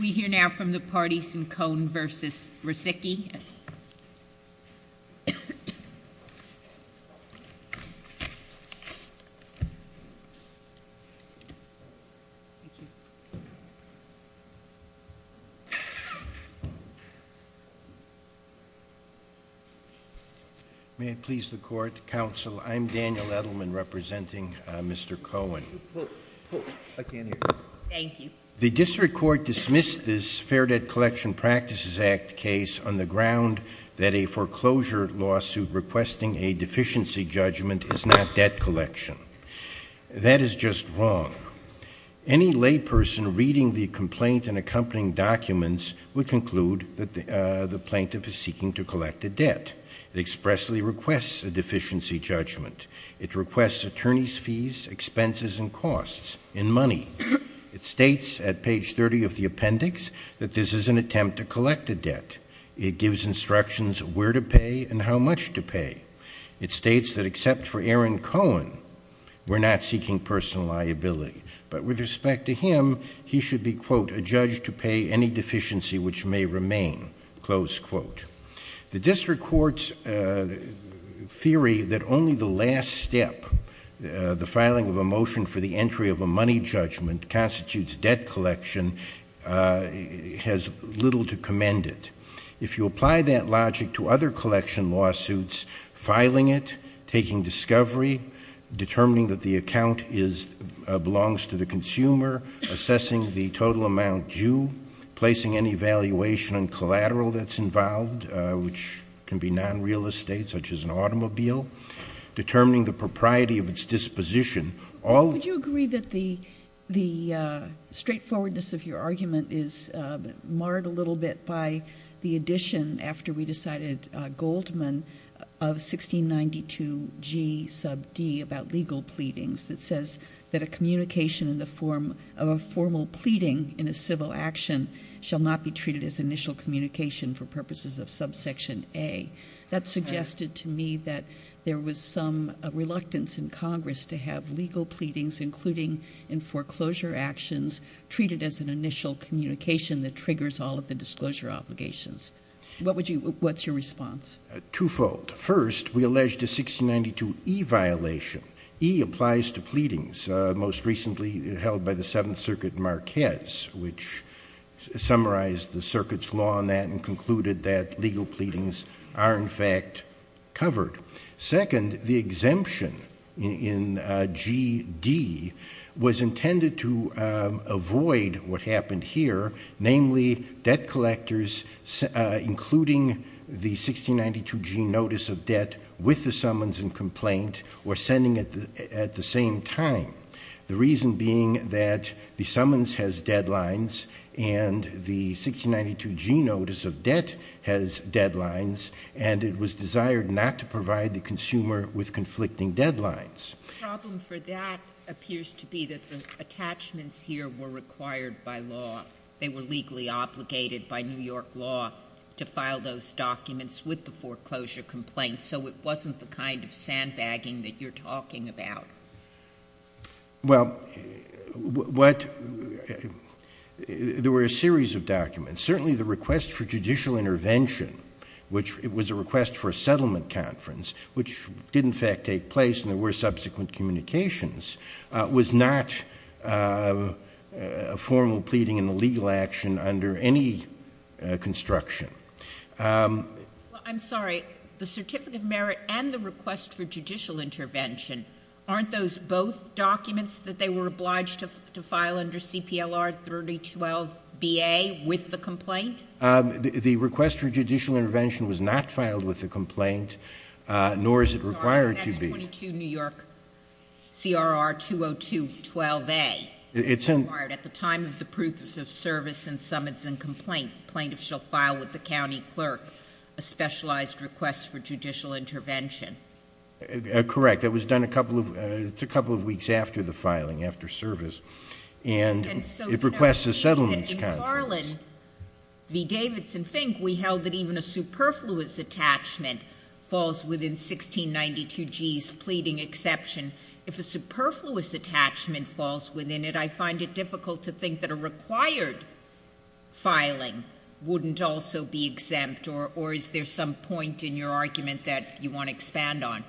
We hear now from the parties in Cohen v. Ricicchi. May it please the Court, Counsel, I'm Daniel Edelman representing Mr. Cohen. I can't hear you. Thank you. The District Court dismissed this Fair Debt Collection Practices Act case on the ground that a foreclosure lawsuit requesting a deficiency judgment is not debt collection. That is just wrong. Any layperson reading the complaint and accompanying documents would conclude that the plaintiff is seeking to collect a debt. It expressly requests a deficiency judgment. It requests attorney's fees, expenses, and costs in money. It states at page 30 of the appendix that this is an attempt to collect a debt. It gives instructions where to pay and how much to pay. It states that except for Aaron Cohen, we're not seeking personal liability. But with respect to him, he should be, quote, a judge to pay any deficiency which may remain, close quote. The District Court's theory that only the last step, the filing of a motion for the entry of a money judgment, constitutes debt collection, has little to commend it. If you apply that logic to other collection lawsuits, filing it, taking discovery, determining that the account belongs to the consumer, assessing the total amount due, placing any valuation on collateral that's involved, which can be non-real estate such as an automobile, determining the propriety of its disposition. Would you agree that the straightforwardness of your argument is marred a little bit by the addition, after we decided Goldman, of 1692G sub D about legal pleadings, that says that a communication in the form of a formal pleading in a civil action shall not be treated as initial communication for purposes of subsection A. That suggested to me that there was some reluctance in Congress to have legal pleadings, including in foreclosure actions, treated as an initial communication that triggers all of the disclosure obligations. What's your response? Twofold. First, we allege the 1692E violation. E applies to pleadings, most recently held by the Seventh Circuit Marquez, which summarized the circuit's law on that and concluded that legal pleadings are, in fact, covered. Second, the exemption in GD was intended to avoid what happened here, namely debt collectors including the 1692G notice of debt with the summons and complaint were sending at the same time, the reason being that the summons has deadlines and the 1692G notice of debt has deadlines, and it was desired not to provide the consumer with conflicting deadlines. The problem for that appears to be that the attachments here were required by law. They were legally obligated by New York law to file those documents with the foreclosure complaint, so it wasn't the kind of sandbagging that you're talking about. Well, there were a series of documents. Certainly the request for judicial intervention, which was a request for a settlement conference, which did in fact take place and there were subsequent communications, was not a formal pleading in the legal action under any construction. I'm sorry. The certificate of merit and the request for judicial intervention, aren't those both documents that they were obliged to file under CPLR 3012BA with the complaint? The request for judicial intervention was not filed with the complaint, nor is it required to be. That's 22 New York CRR 20212A. It's in— At the time of the proof of service and summons and complaint, plaintiffs shall file with the county clerk a specialized request for judicial intervention. Correct. That was done a couple of—it's a couple of weeks after the filing, after service, and it requests a settlements conference. In Garland v. Davidson Fink, we held that even a superfluous attachment falls within 1692G's pleading exception. If a superfluous attachment falls within it, I find it difficult to think that a required filing wouldn't also be exempt, or is there some point in your argument that you want to expand on?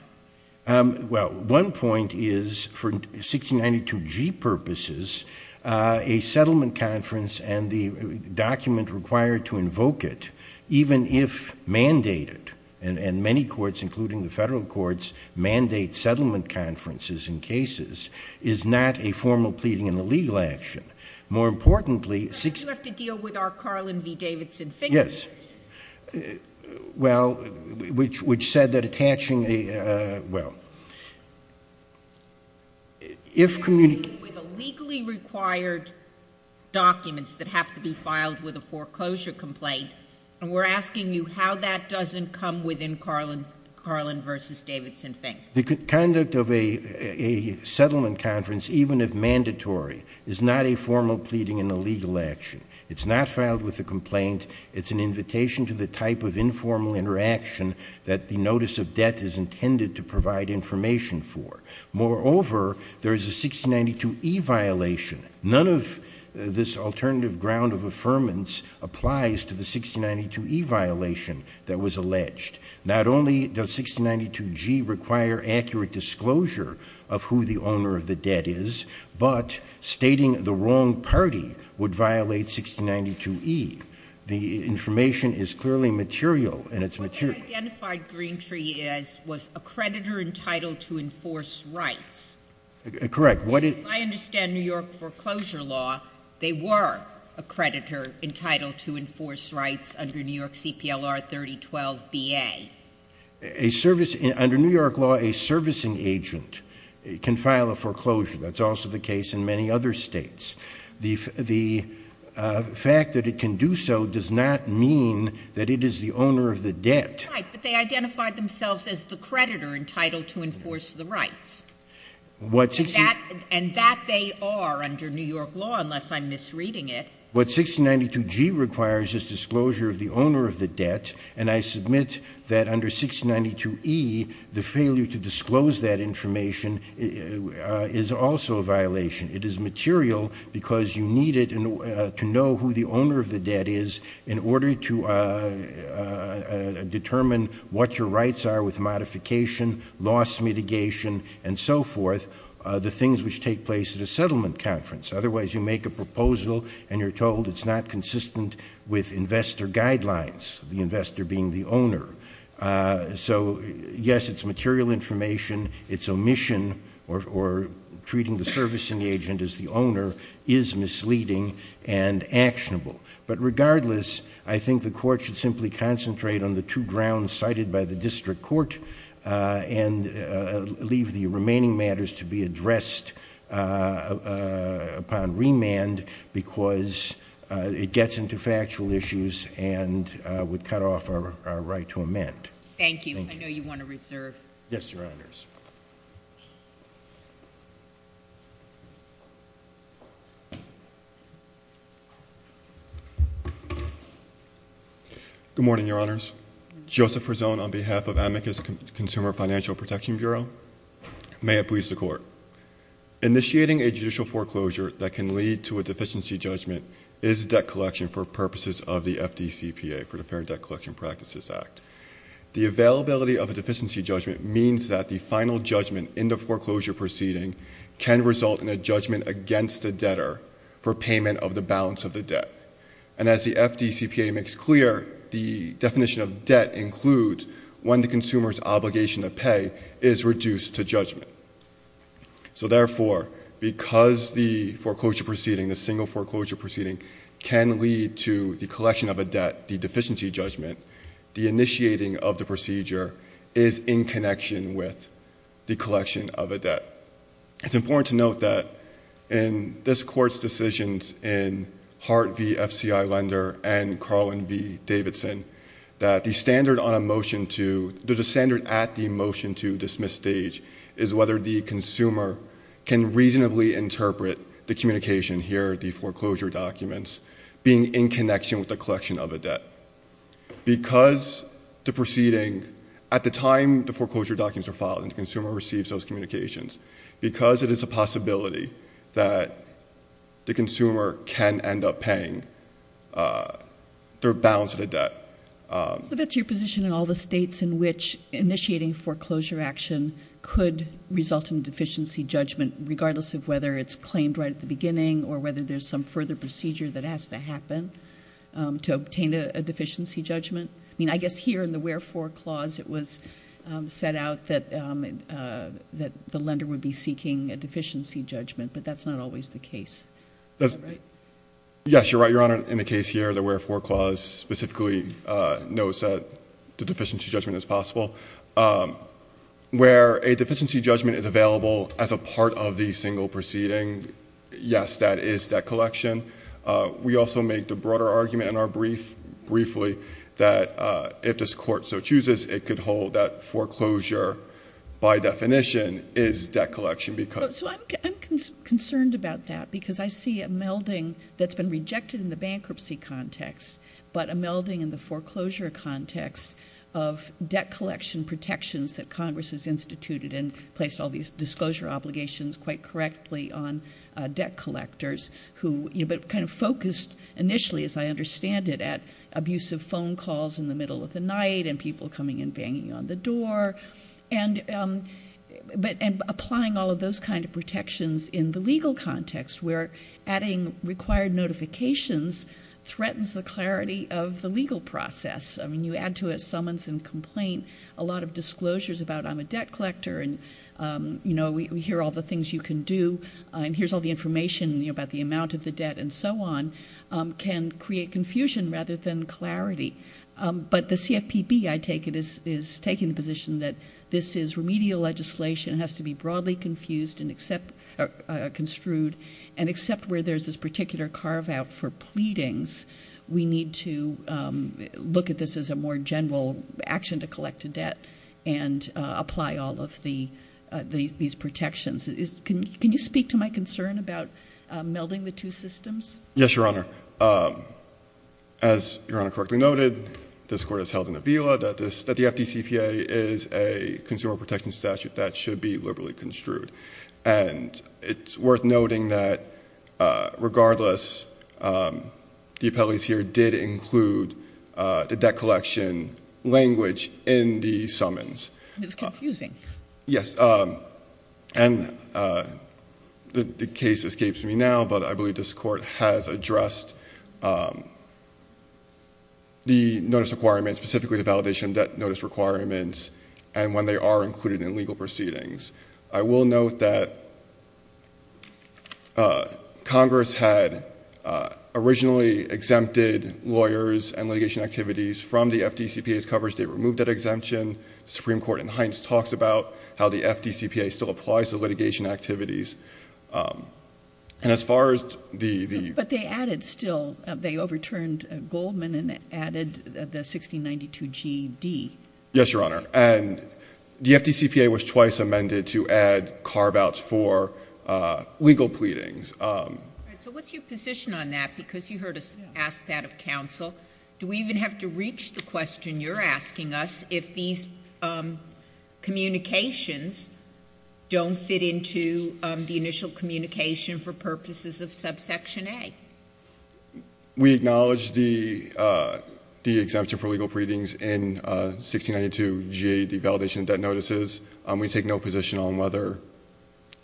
Well, one point is for 1692G purposes, a settlement conference and the document required to invoke it, even if mandated, and many courts, including the federal courts, mandate settlement conferences in cases, is not a formal pleading in the legal action. More importantly— You have to deal with our Garland v. Davidson Fink. Yes. Well, which said that attaching a—well, if— With the legally required documents that have to be filed with a foreclosure complaint and we're asking you how that doesn't come within Garland v. Davidson Fink. The conduct of a settlement conference, even if mandatory, is not a formal pleading in the legal action. It's not filed with a complaint. It's an invitation to the type of informal interaction that the notice of debt is intended to provide information for. Moreover, there is a 1692E violation. None of this alternative ground of affirmance applies to the 1692E violation that was alleged. Not only does 1692G require accurate disclosure of who the owner of the debt is, but stating the wrong party would violate 1692E. The information is clearly material, and it's material. What they identified Greentree as was a creditor entitled to enforce rights. Correct. As I understand New York foreclosure law, they were a creditor entitled to enforce rights under New York CPLR 3012BA. A service—under New York law, a servicing agent can file a foreclosure. That's also the case in many other states. The fact that it can do so does not mean that it is the owner of the debt. Right, but they identified themselves as the creditor entitled to enforce the rights. And that they are under New York law, unless I'm misreading it. What 1692G requires is disclosure of the owner of the debt, and I submit that under 1692E, the failure to disclose that information is also a violation. It is material because you need it to know who the owner of the debt is in order to determine what your rights are with modification, loss mitigation, and so forth, the things which take place at a settlement conference. Otherwise, you make a proposal, and you're told it's not consistent with investor guidelines, the investor being the owner. So, yes, it's material information. Its omission, or treating the servicing agent as the owner, is misleading and actionable. But regardless, I think the court should simply concentrate on the two grounds cited by the district court and leave the remaining matters to be addressed upon remand because it gets into factual issues and would cut off our right to amend. Thank you. I know you want to reserve. Yes, Your Honors. Good morning, Your Honors. Joseph Rizzone on behalf of Amicus Consumer Financial Protection Bureau. May it please the Court. Initiating a judicial foreclosure that can lead to a deficiency judgment is debt collection for purposes of the FDCPA, for the Fair Debt Collection Practices Act. The availability of a deficiency judgment means that the final judgment in the foreclosure proceeding can result in a judgment against the debtor for payment of the balance of the debt. And as the FDCPA makes clear, the definition of debt includes when the consumer's obligation to pay is reduced to judgment. So, therefore, because the foreclosure proceeding, the single foreclosure proceeding, can lead to the collection of a debt, the deficiency judgment, the initiating of the procedure, is in connection with the collection of a debt. It's important to note that in this Court's decisions in Hart v. FCI Lender and Carlin v. Davidson, that the standard at the motion to dismiss stage is whether the consumer can reasonably interpret the communication here, the foreclosure documents, being in connection with the collection of a debt. Because the proceeding, at the time the foreclosure documents are filed and the consumer receives those communications, because it is a possibility that the consumer can end up paying their balance of the debt. So that's your position in all the states in which initiating foreclosure action could result in a deficiency judgment, regardless of whether it's claimed right at the beginning or whether there's some further procedure that has to happen to obtain a deficiency judgment? I mean, I guess here in the wherefore clause it was set out that the lender would be seeking a deficiency judgment, but that's not always the case, right? Yes, you're right, Your Honor. In the case here, the wherefore clause specifically notes that the deficiency judgment is possible. Where a deficiency judgment is available as a part of the single proceeding, yes, that is debt collection. We also make the broader argument in our brief, briefly, that if this court so chooses, it could hold that foreclosure by definition is debt collection. So I'm concerned about that because I see a melding that's been rejected in the bankruptcy context, but a melding in the foreclosure context of debt collection protections that Congress has instituted and placed all these disclosure obligations quite correctly on debt collectors who, you know, but kind of focused initially, as I understand it, at abusive phone calls in the middle of the night and people coming in banging on the door and applying all of those kind of protections in the legal context where adding required notifications threatens the clarity of the legal process. I mean, you add to it summons and complaint, a lot of disclosures about I'm a debt collector and, you know, we hear all the things you can do and here's all the information, you know, about the amount of the debt and so on can create confusion rather than clarity. But the CFPB, I take it, is taking the position that this is remedial legislation, has to be broadly confused and construed, and except where there's this particular carve-out for pleadings, we need to look at this as a more general action to collect a debt and apply all of these protections. Can you speak to my concern about melding the two systems? Yes, Your Honor. As Your Honor correctly noted, this Court has held in Avila that the FDCPA is a consumer protection statute that should be liberally construed. And it's worth noting that regardless, the appellees here did include the debt collection language in the summons. It's confusing. Yes. And the case escapes me now, but I believe this Court has addressed the notice requirements, specifically the validation of debt notice requirements and when they are included in legal proceedings. I will note that Congress had originally exempted lawyers and litigation activities from the FDCPA's coverage. They removed that exemption. The Supreme Court in Hines talks about how the FDCPA still applies to litigation activities. But they added still, they overturned Goldman and added the 1692GD. Yes, Your Honor. And the FDCPA was twice amended to add carve-outs for legal pleadings. All right. So what's your position on that? Because you heard us ask that of counsel. Do we even have to reach the question you're asking us if these communications don't fit into the initial communication for purposes of subsection A? We acknowledge the exemption for legal pleadings in 1692GD, the validation of debt notices. We take no position on whether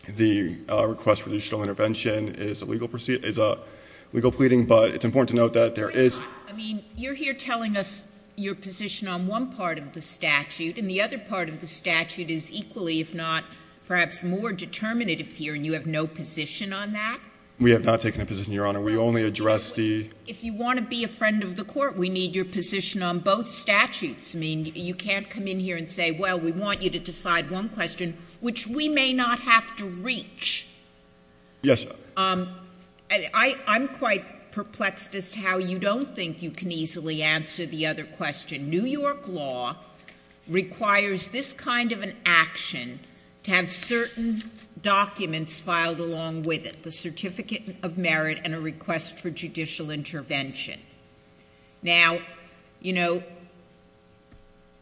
the request for judicial intervention is a legal pleading. But it's important to note that there is — I mean, you're here telling us your position on one part of the statute, and the other part of the statute is equally, if not perhaps more determinative here, and you have no position on that? We only addressed the — If you want to be a friend of the Court, we need your position on both statutes. I mean, you can't come in here and say, well, we want you to decide one question, which we may not have to reach. Yes, Your Honor. I'm quite perplexed as to how you don't think you can easily answer the other question. New York law requires this kind of an action to have certain documents filed along with it, the certificate of merit and a request for judicial intervention. Now, you know,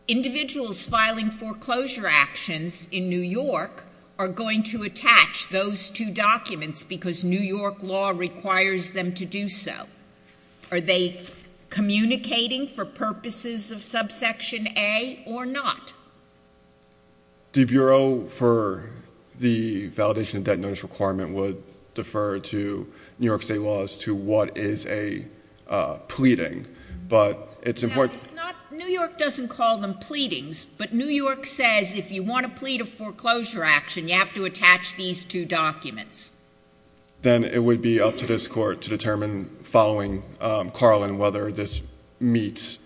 individuals filing foreclosure actions in New York are going to attach those two documents because New York law requires them to do so. Are they communicating for purposes of subsection A or not? The Bureau for the validation of debt notice requirement would defer to New York state law as to what is a pleading. But it's important — Now, it's not — New York doesn't call them pleadings, but New York says if you want to plead a foreclosure action, you have to attach these two documents. Then it would be up to this court to determine following Carlin whether this meets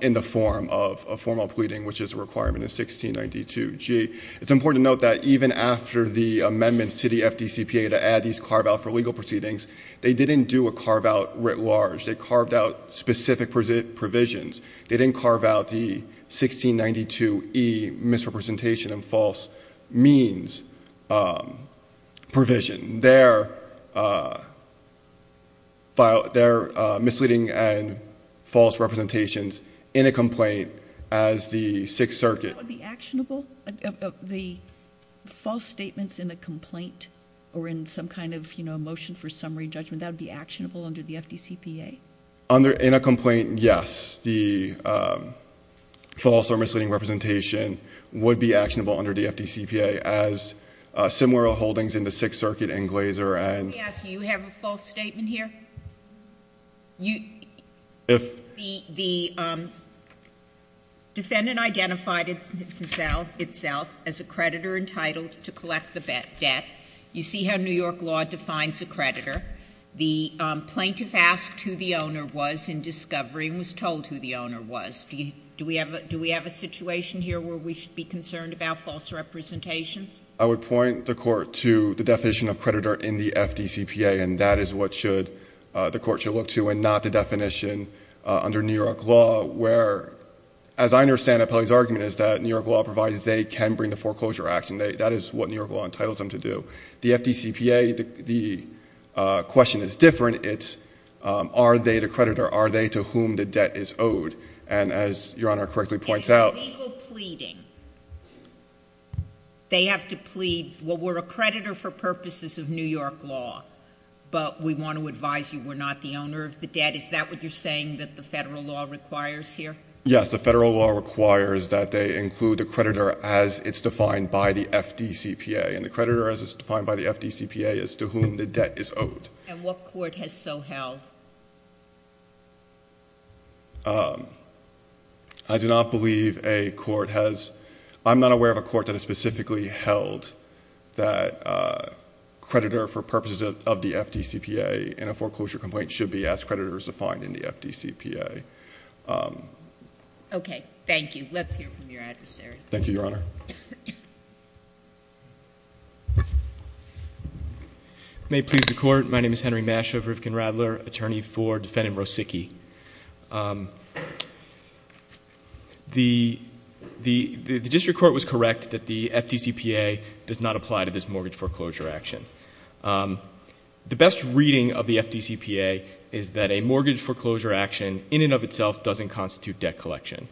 in the form of a formal pleading, which is a requirement of 1692G. It's important to note that even after the amendments to the FDCPA to add these carve-out for legal proceedings, they didn't do a carve-out writ large. They carved out specific provisions. They didn't carve out the 1692E misrepresentation and false means provision. They're misleading and false representations in a complaint as the Sixth Circuit — Would that be actionable? The false statements in a complaint or in some kind of, you know, a motion for summary judgment, that would be actionable under the FDCPA? In a complaint, yes. The false or misleading representation would be actionable under the FDCPA as similar holdings in the Sixth Circuit and Glaser and — Let me ask you, do you have a false statement here? If — The defendant identified itself as a creditor entitled to collect the debt. You see how New York law defines a creditor. The plaintiff asked who the owner was in discovery and was told who the owner was. Do we have a situation here where we should be concerned about false representations? I would point the Court to the definition of creditor in the FDCPA, and that is what the Court should look to and not the definition under New York law, where, as I understand Appellee's argument, is that New York law provides they can bring the foreclosure action. That is what New York law entitles them to do. The FDCPA, the question is different. It's are they the creditor? Are they to whom the debt is owed? And as Your Honor correctly points out — And in legal pleading, they have to plead, well, we're a creditor for purposes of New York law, but we want to advise you we're not the owner of the debt. Is that what you're saying that the Federal law requires here? Yes. The Federal law requires that they include the creditor as it's defined by the FDCPA, and the creditor as it's defined by the FDCPA is to whom the debt is owed. And what court has so held? I do not believe a court has — I'm not aware of a court that has specifically held that creditor for purposes of the FDCPA and a foreclosure complaint should be as creditors defined in the FDCPA. Okay. Thank you. Let's hear from your adversary. Thank you, Your Honor. May it please the Court. My name is Henry Mashover, Rifkin-Radler, attorney for defendant Rosicki. The district court was correct that the FDCPA does not apply to this mortgage foreclosure action. The best reading of the FDCPA is that a mortgage foreclosure action in and of itself doesn't constitute debt collection.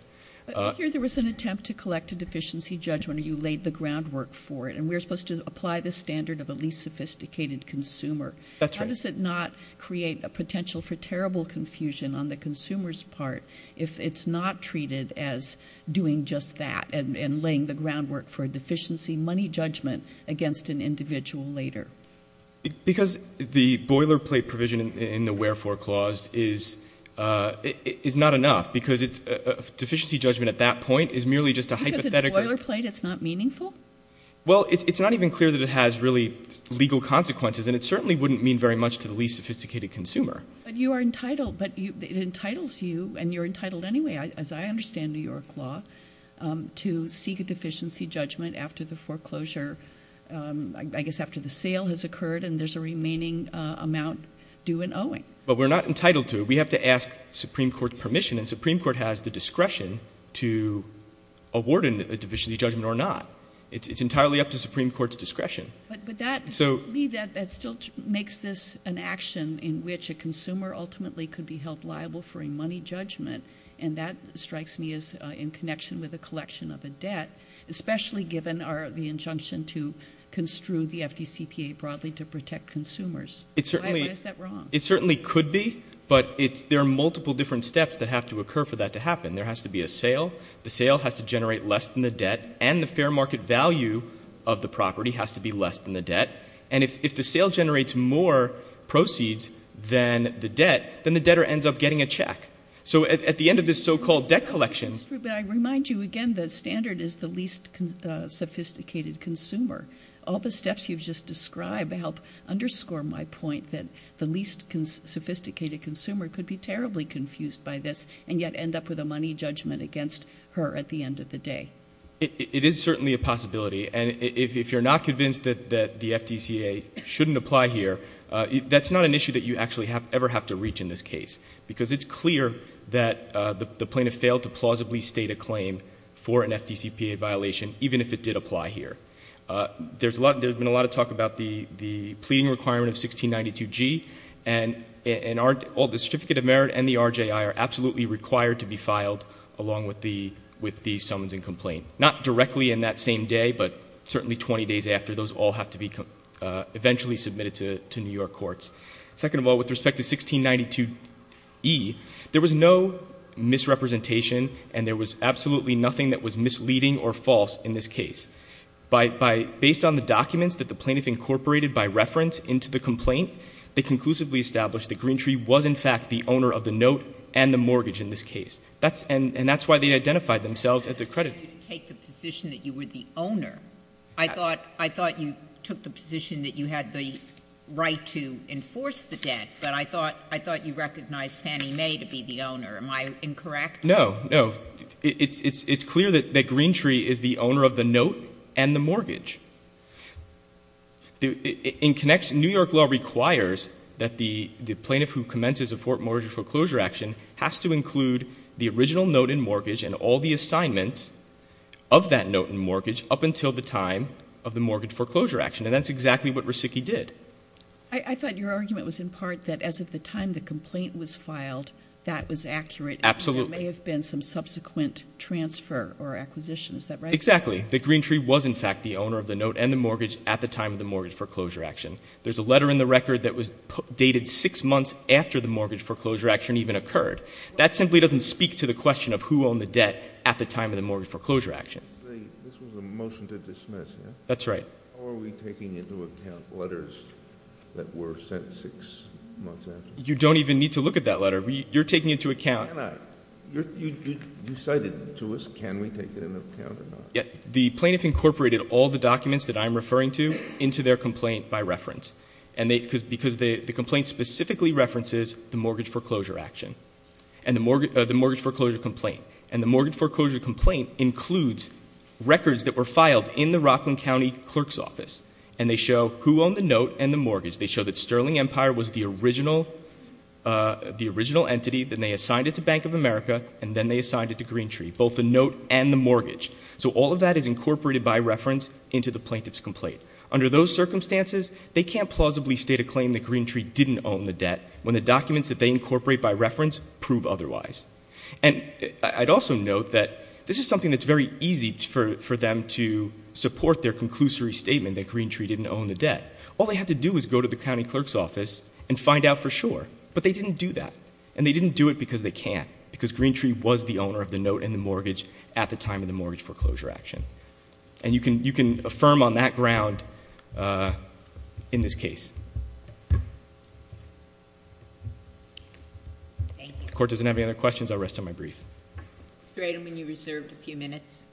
I hear there was an attempt to collect a deficiency judgment, or you laid the groundwork for it, and we're supposed to apply the standard of a least sophisticated consumer. That's right. How does it not create a potential for terrible confusion on the consumer's part if it's not treated as doing just that and laying the groundwork for a deficiency money judgment against an individual later? Because the boilerplate provision in the wherefore clause is not enough, because a deficiency judgment at that point is merely just a hypothetical — Because it's boilerplate, it's not meaningful? Well, it's not even clear that it has really legal consequences, and it certainly wouldn't mean very much to the least sophisticated consumer. But it entitles you, and you're entitled anyway, as I understand New York law, to seek a deficiency judgment after the foreclosure, I guess after the sale has occurred and there's a remaining amount due and owing. But we're not entitled to it. We have to ask Supreme Court permission, and the Supreme Court has the discretion to award a deficiency judgment or not. It's entirely up to the Supreme Court's discretion. But that still makes this an action in which a consumer ultimately could be held liable for a money judgment, and that strikes me as in connection with a collection of a debt, especially given the injunction to construe the FDCPA broadly to protect consumers. Why is that wrong? It certainly could be, but there are multiple different steps that have to occur for that to happen. There has to be a sale. The sale has to generate less than the debt, and the fair market value of the property has to be less than the debt. And if the sale generates more proceeds than the debt, then the debtor ends up getting a check. So at the end of this so-called debt collection. But I remind you again the standard is the least sophisticated consumer. All the steps you've just described help underscore my point that the least sophisticated consumer could be terribly confused by this and yet end up with a money judgment against her at the end of the day. It is certainly a possibility, and if you're not convinced that the FDCPA shouldn't apply here, that's not an issue that you actually ever have to reach in this case because it's clear that the plaintiff failed to plausibly state a claim for an FDCPA violation, even if it did apply here. There's been a lot of talk about the pleading requirement of 1692G, and the Certificate of Merit and the RJI are absolutely required to be filed along with the summons and complaint. Not directly in that same day, but certainly 20 days after. Those all have to be eventually submitted to New York courts. Second of all, with respect to 1692E, there was no misrepresentation and there was absolutely nothing that was misleading or false in this case. Based on the documents that the plaintiff incorporated by reference into the complaint, they conclusively established that Greentree was in fact the owner of the note and the mortgage in this case. And that's why they identified themselves at the creditor. If I had you take the position that you were the owner, I thought you took the position that you had the right to enforce the debt, but I thought you recognized Fannie Mae to be the owner. Am I incorrect? No. No. It's clear that Greentree is the owner of the note and the mortgage. In connection, New York law requires that the plaintiff who commences a Fort Mortgage foreclosure action has to include the original note and mortgage and all the assignments of that note and mortgage up until the time of the mortgage foreclosure action. And that's exactly what Resicki did. I thought your argument was in part that as of the time the complaint was filed, that was accurate. Absolutely. And there may have been some subsequent transfer or acquisition. Is that right? Exactly. That Greentree was in fact the owner of the note and the mortgage at the time of the mortgage foreclosure action. There's a letter in the record that was dated six months after the mortgage foreclosure action even occurred. That simply doesn't speak to the question of who owned the debt at the time of the mortgage foreclosure action. This was a motion to dismiss, yeah? That's right. How are we taking into account letters that were sent six months after? You don't even need to look at that letter. You're taking it into account. Can I? You cited it to us. Can we take it into account or not? The plaintiff incorporated all the documents that I'm referring to into their complaint by reference. And because the complaint specifically references the mortgage foreclosure action and the mortgage foreclosure complaint. And the mortgage foreclosure complaint includes records that were filed in the Rockland County Clerk's Office. And they show who owned the note and the mortgage. They show that Sterling Empire was the original entity. Then they assigned it to Bank of America. And then they assigned it to Greentree, both the note and the mortgage. So all of that is incorporated by reference into the plaintiff's complaint. Under those circumstances, they can't plausibly state a claim that Greentree didn't own the debt when the documents that they incorporate by reference prove otherwise. And I'd also note that this is something that's very easy for them to support their conclusory statement that Greentree didn't own the debt. All they had to do was go to the county clerk's office and find out for sure. But they didn't do that. And they didn't do it because they can't. Because Greentree was the owner of the note and the mortgage at the time of the mortgage foreclosure action. And you can affirm on that ground in this case. The court doesn't have any other questions. I'll rest on my brief. Great. I mean, you reserved a few minutes.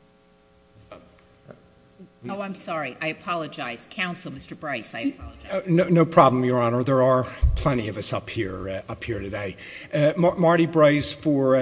Oh, I'm sorry. I apologize. Counsel, Mr. Bryce, I apologize. No problem, Your Honor. There are plenty of us up here today. Marty Bryce for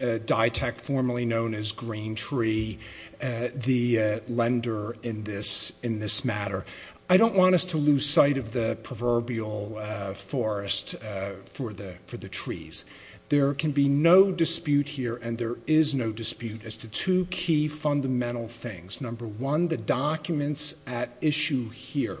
Ditec, formerly known as Greentree, the lender in this matter. I don't want us to lose sight of the proverbial forest for the trees. There can be no dispute here, and there is no dispute, as to two key fundamental things. Number one, the documents at issue here,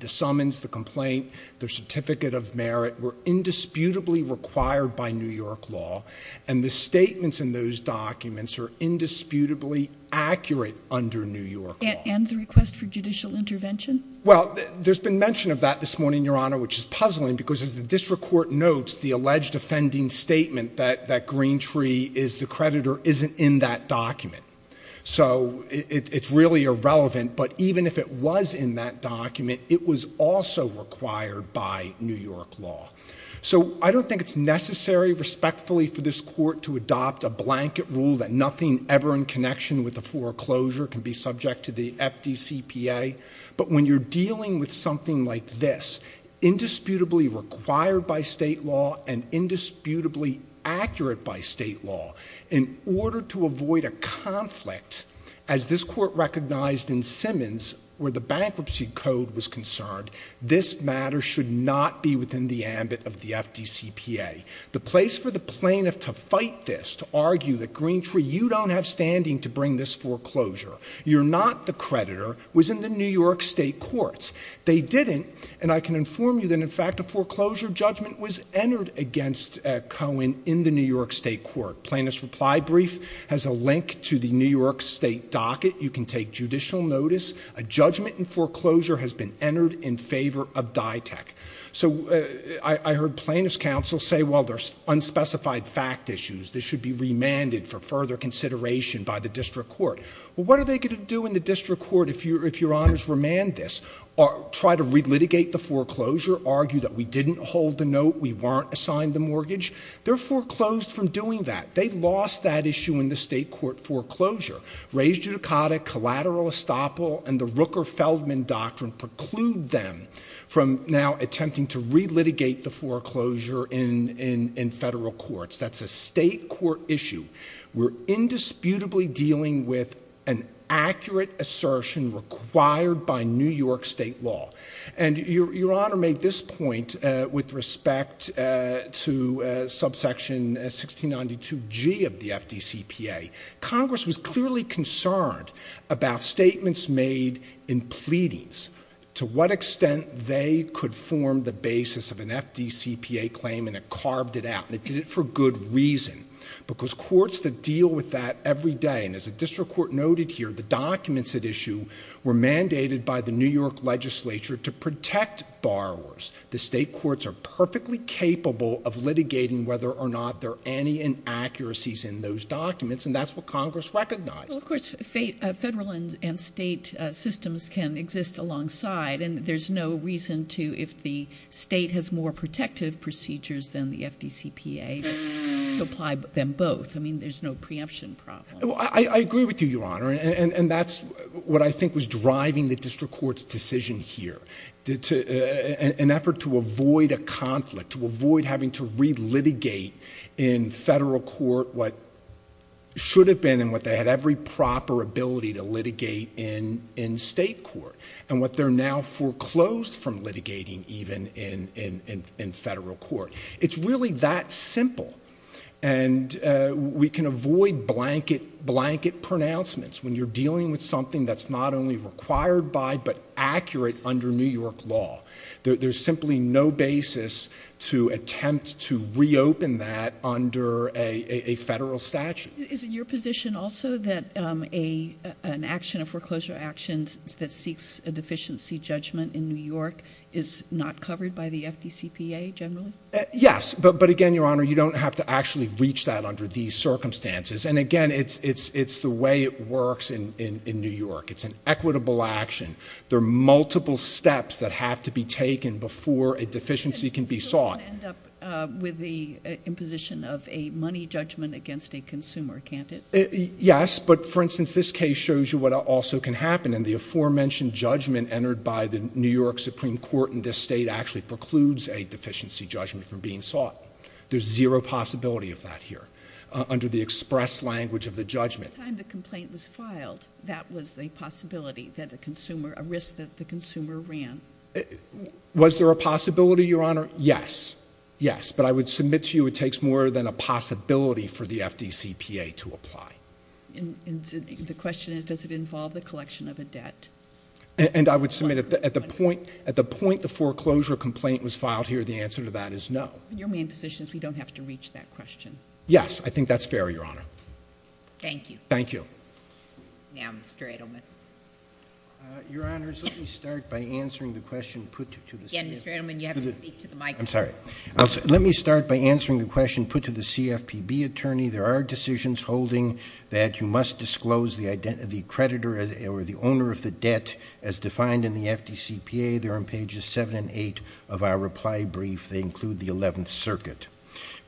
the summons, the complaint, the certificate of merit, were indisputably required by New York law. And the statements in those documents are indisputably accurate under New York law. And the request for judicial intervention? Well, there's been mention of that this morning, Your Honor, which is puzzling. Because as the district court notes, the alleged offending statement that Greentree is the creditor isn't in that document. So it's really irrelevant. But even if it was in that document, it was also required by New York law. So I don't think it's necessary, respectfully, for this court to adopt a blanket rule that nothing ever in connection with the foreclosure can be subject to the FDCPA. But when you're dealing with something like this, indisputably required by state law and indisputably accurate by state law, in order to avoid a conflict, as this court recognized in Simmons where the bankruptcy code was concerned, this matter should not be within the ambit of the FDCPA. The place for the plaintiff to fight this, to argue that, Greentree, you don't have standing to bring this foreclosure, you're not the creditor, was in the New York state courts. They didn't. And I can inform you that, in fact, a foreclosure judgment was entered against Cohen in the New York state court. Plaintiff's reply brief has a link to the New York state docket. You can take judicial notice. A judgment in foreclosure has been entered in favor of DITEC. So I heard plaintiff's counsel say, well, there's unspecified fact issues. This should be remanded for further consideration by the district court. Well, what are they going to do in the district court if your honors remand this? Try to re-litigate the foreclosure? Argue that we didn't hold the note? We weren't assigned the mortgage? They're foreclosed from doing that. They lost that issue in the state court foreclosure. Raised judicata, collateral estoppel, and the Rooker-Feldman doctrine preclude them from now attempting to re-litigate the foreclosure in federal courts. That's a state court issue. We're indisputably dealing with an accurate assertion required by New York state law. And your honor made this point with respect to subsection 1692G of the FDCPA. Congress was clearly concerned about statements made in pleadings, to what extent they could form the basis of an FDCPA claim and it carved it out. And it did it for good reason. Because courts that deal with that every day, and as the district court noted here, the documents at issue were mandated by the New York legislature to protect borrowers. The state courts are perfectly capable of litigating whether or not there are any inaccuracies in those documents, and that's what Congress recognized. Well, of course, federal and state systems can exist alongside, and there's no reason to, if the state has more protective procedures than the FDCPA, to apply them both. I mean, there's no preemption problem. I agree with you, your honor, and that's what I think was driving the district court's decision here. An effort to avoid a conflict, to avoid having to re-litigate in federal court what should have been and what they had every proper ability to litigate in state court. And what they're now foreclosed from litigating even in federal court. It's really that simple. And we can avoid blanket pronouncements when you're dealing with something that's not only required by but accurate under New York law. There's simply no basis to attempt to reopen that under a federal statute. Is it your position also that an action, a foreclosure action, that seeks a deficiency judgment in New York is not covered by the FDCPA generally? Yes, but again, your honor, you don't have to actually reach that under these circumstances. And again, it's the way it works in New York. It's an equitable action. There are multiple steps that have to be taken before a deficiency can be sought. So it won't end up with the imposition of a money judgment against a consumer, can't it? Yes, but for instance, this case shows you what also can happen and the aforementioned judgment entered by the New York Supreme Court in this state actually precludes a deficiency judgment from being sought. There's zero possibility of that here under the express language of the judgment. By the time the complaint was filed, that was the possibility that a consumer, a risk that the consumer ran. Was there a possibility, your honor? Yes, yes, but I would submit to you it takes more than a possibility for the FDCPA to apply. And the question is, does it involve the collection of a debt? And I would submit at the point the foreclosure complaint was filed here, the answer to that is no. Your main position is we don't have to reach that question. Yes, I think that's fair, your honor. Thank you. Thank you. Now, Mr. Edelman. Your honors, let me start by answering the question put to the CFPB. Again, Mr. Edelman, you have to speak to the microphone. I'm sorry. Let me start by answering the question put to the CFPB attorney. There are decisions holding that you must disclose the creditor or the owner of the debt as defined in the FDCPA. They're on pages 7 and 8 of our reply brief. They include the 11th Circuit.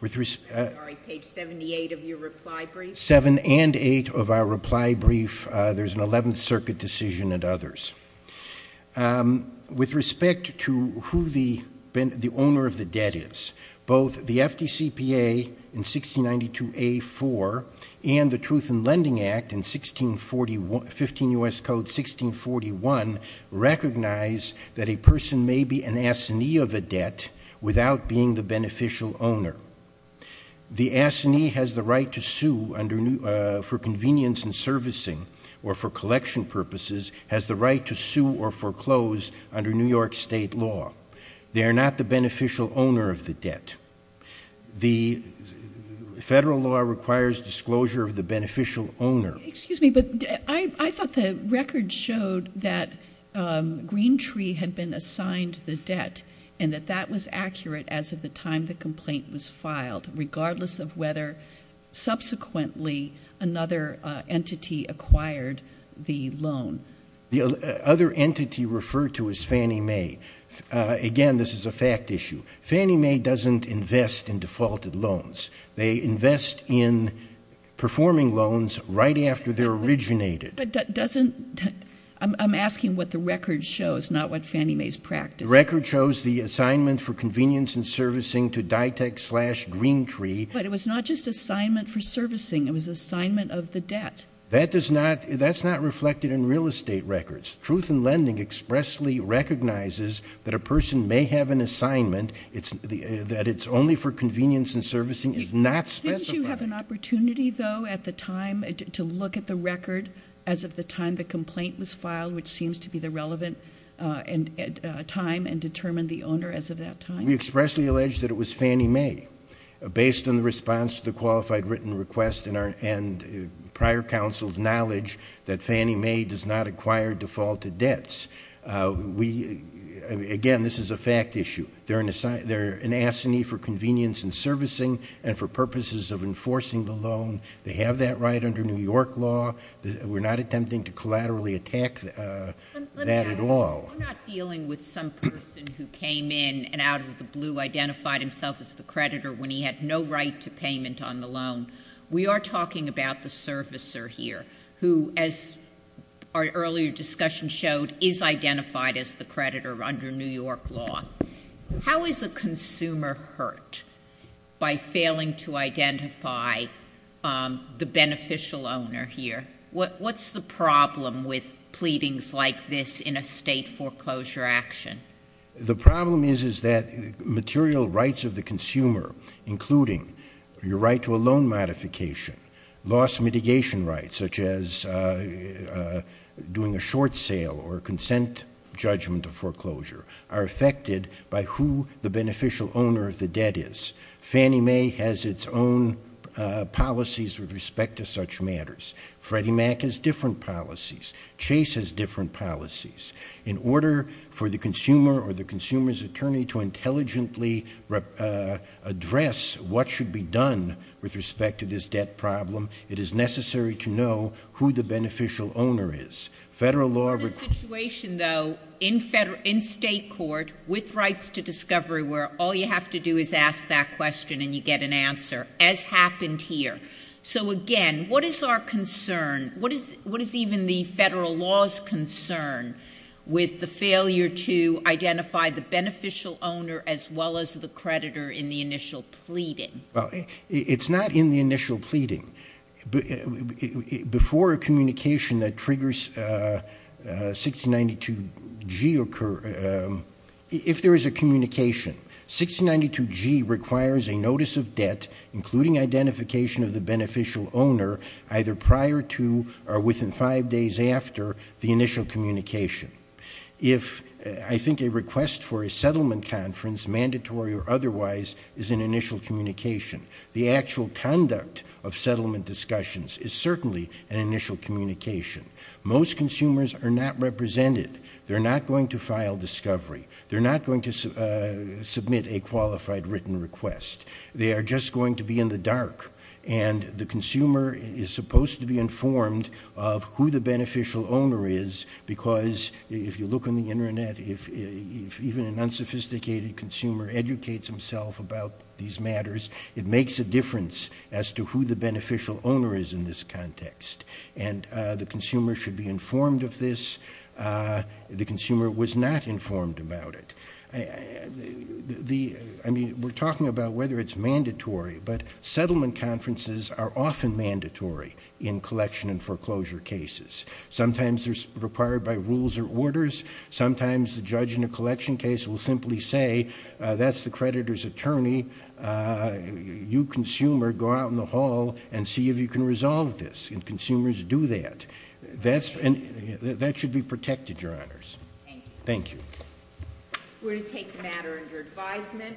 I'm sorry, page 78 of your reply brief? 7 and 8 of our reply brief. There's an 11th Circuit decision and others. With respect to who the owner of the debt is, both the FDCPA in 1692A-4 and the Truth in Lending Act in 15 U.S. Code 1641 recognize that a person may be an assignee of a debt without being the beneficial owner. The assignee has the right to sue for convenience in servicing or for collection purposes has the right to sue or foreclose under New York State law. They are not the beneficial owner of the debt. The federal law requires disclosure of the beneficial owner. Excuse me, but I thought the record showed that Greentree had been assigned the debt and that that was accurate as of the time the complaint was filed, regardless of whether subsequently another entity acquired the loan. The other entity referred to as Fannie Mae. Again, this is a fact issue. Fannie Mae doesn't invest in defaulted loans. They invest in performing loans right after they're originated. But doesn't that – I'm asking what the record shows, not what Fannie Mae's practice. The record shows the assignment for convenience in servicing to DITEC slash Greentree. But it was not just assignment for servicing. It was assignment of the debt. That's not reflected in real estate records. Truth in Lending expressly recognizes that a person may have an assignment, that it's only for convenience in servicing. It's not specified. Didn't you have an opportunity, though, at the time to look at the record as of the time the complaint was filed, which seems to be the relevant time, and determine the owner as of that time? We expressly allege that it was Fannie Mae, based on the response to the qualified written request and prior counsel's knowledge that Fannie Mae does not acquire defaulted debts. Again, this is a fact issue. They're an assignee for convenience in servicing and for purposes of enforcing the loan. They have that right under New York law. We're not attempting to collaterally attack that at all. I'm not dealing with some person who came in and out of the blue identified himself as the creditor when he had no right to payment on the loan. We are talking about the servicer here, who, as our earlier discussion showed, is identified as the creditor under New York law. How is a consumer hurt by failing to identify the beneficial owner here? What's the problem with pleadings like this in a state foreclosure action? The problem is that material rights of the consumer, including your right to a loan modification, loss mitigation rights, such as doing a short sale or a consent judgment of foreclosure, are affected by who the beneficial owner of the debt is. Fannie Mae has its own policies with respect to such matters. Freddie Mac has different policies. Chase has different policies. In order for the consumer or the consumer's attorney to intelligently address what should be done with respect to this debt problem, it is necessary to know who the beneficial owner is. Federal law requires— We're in a situation, though, in state court with rights to discovery where all you have to do is ask that question and you get an answer, as happened here. So, again, what is our concern? What is even the federal law's concern with the failure to identify the beneficial owner as well as the creditor in the initial pleading? Well, it's not in the initial pleading. Before a communication that triggers 6092G occur, if there is a communication, 6092G requires a notice of debt, including identification of the beneficial owner, either prior to or within five days after the initial communication. I think a request for a settlement conference, mandatory or otherwise, is an initial communication. The actual conduct of settlement discussions is certainly an initial communication. Most consumers are not represented. They're not going to file discovery. They're not going to submit a qualified written request. They are just going to be in the dark, and the consumer is supposed to be informed of who the beneficial owner is because, if you look on the Internet, if even an unsophisticated consumer educates himself about these matters, it makes a difference as to who the beneficial owner is in this context. And the consumer should be informed of this. The consumer was not informed about it. I mean, we're talking about whether it's mandatory, but settlement conferences are often mandatory in collection and foreclosure cases. Sometimes they're required by rules or orders. Sometimes the judge in a collection case will simply say, that's the creditor's attorney. You, consumer, go out in the hall and see if you can resolve this, and consumers do that. That should be protected, Your Honors. Thank you. We're going to take the matter under advisement.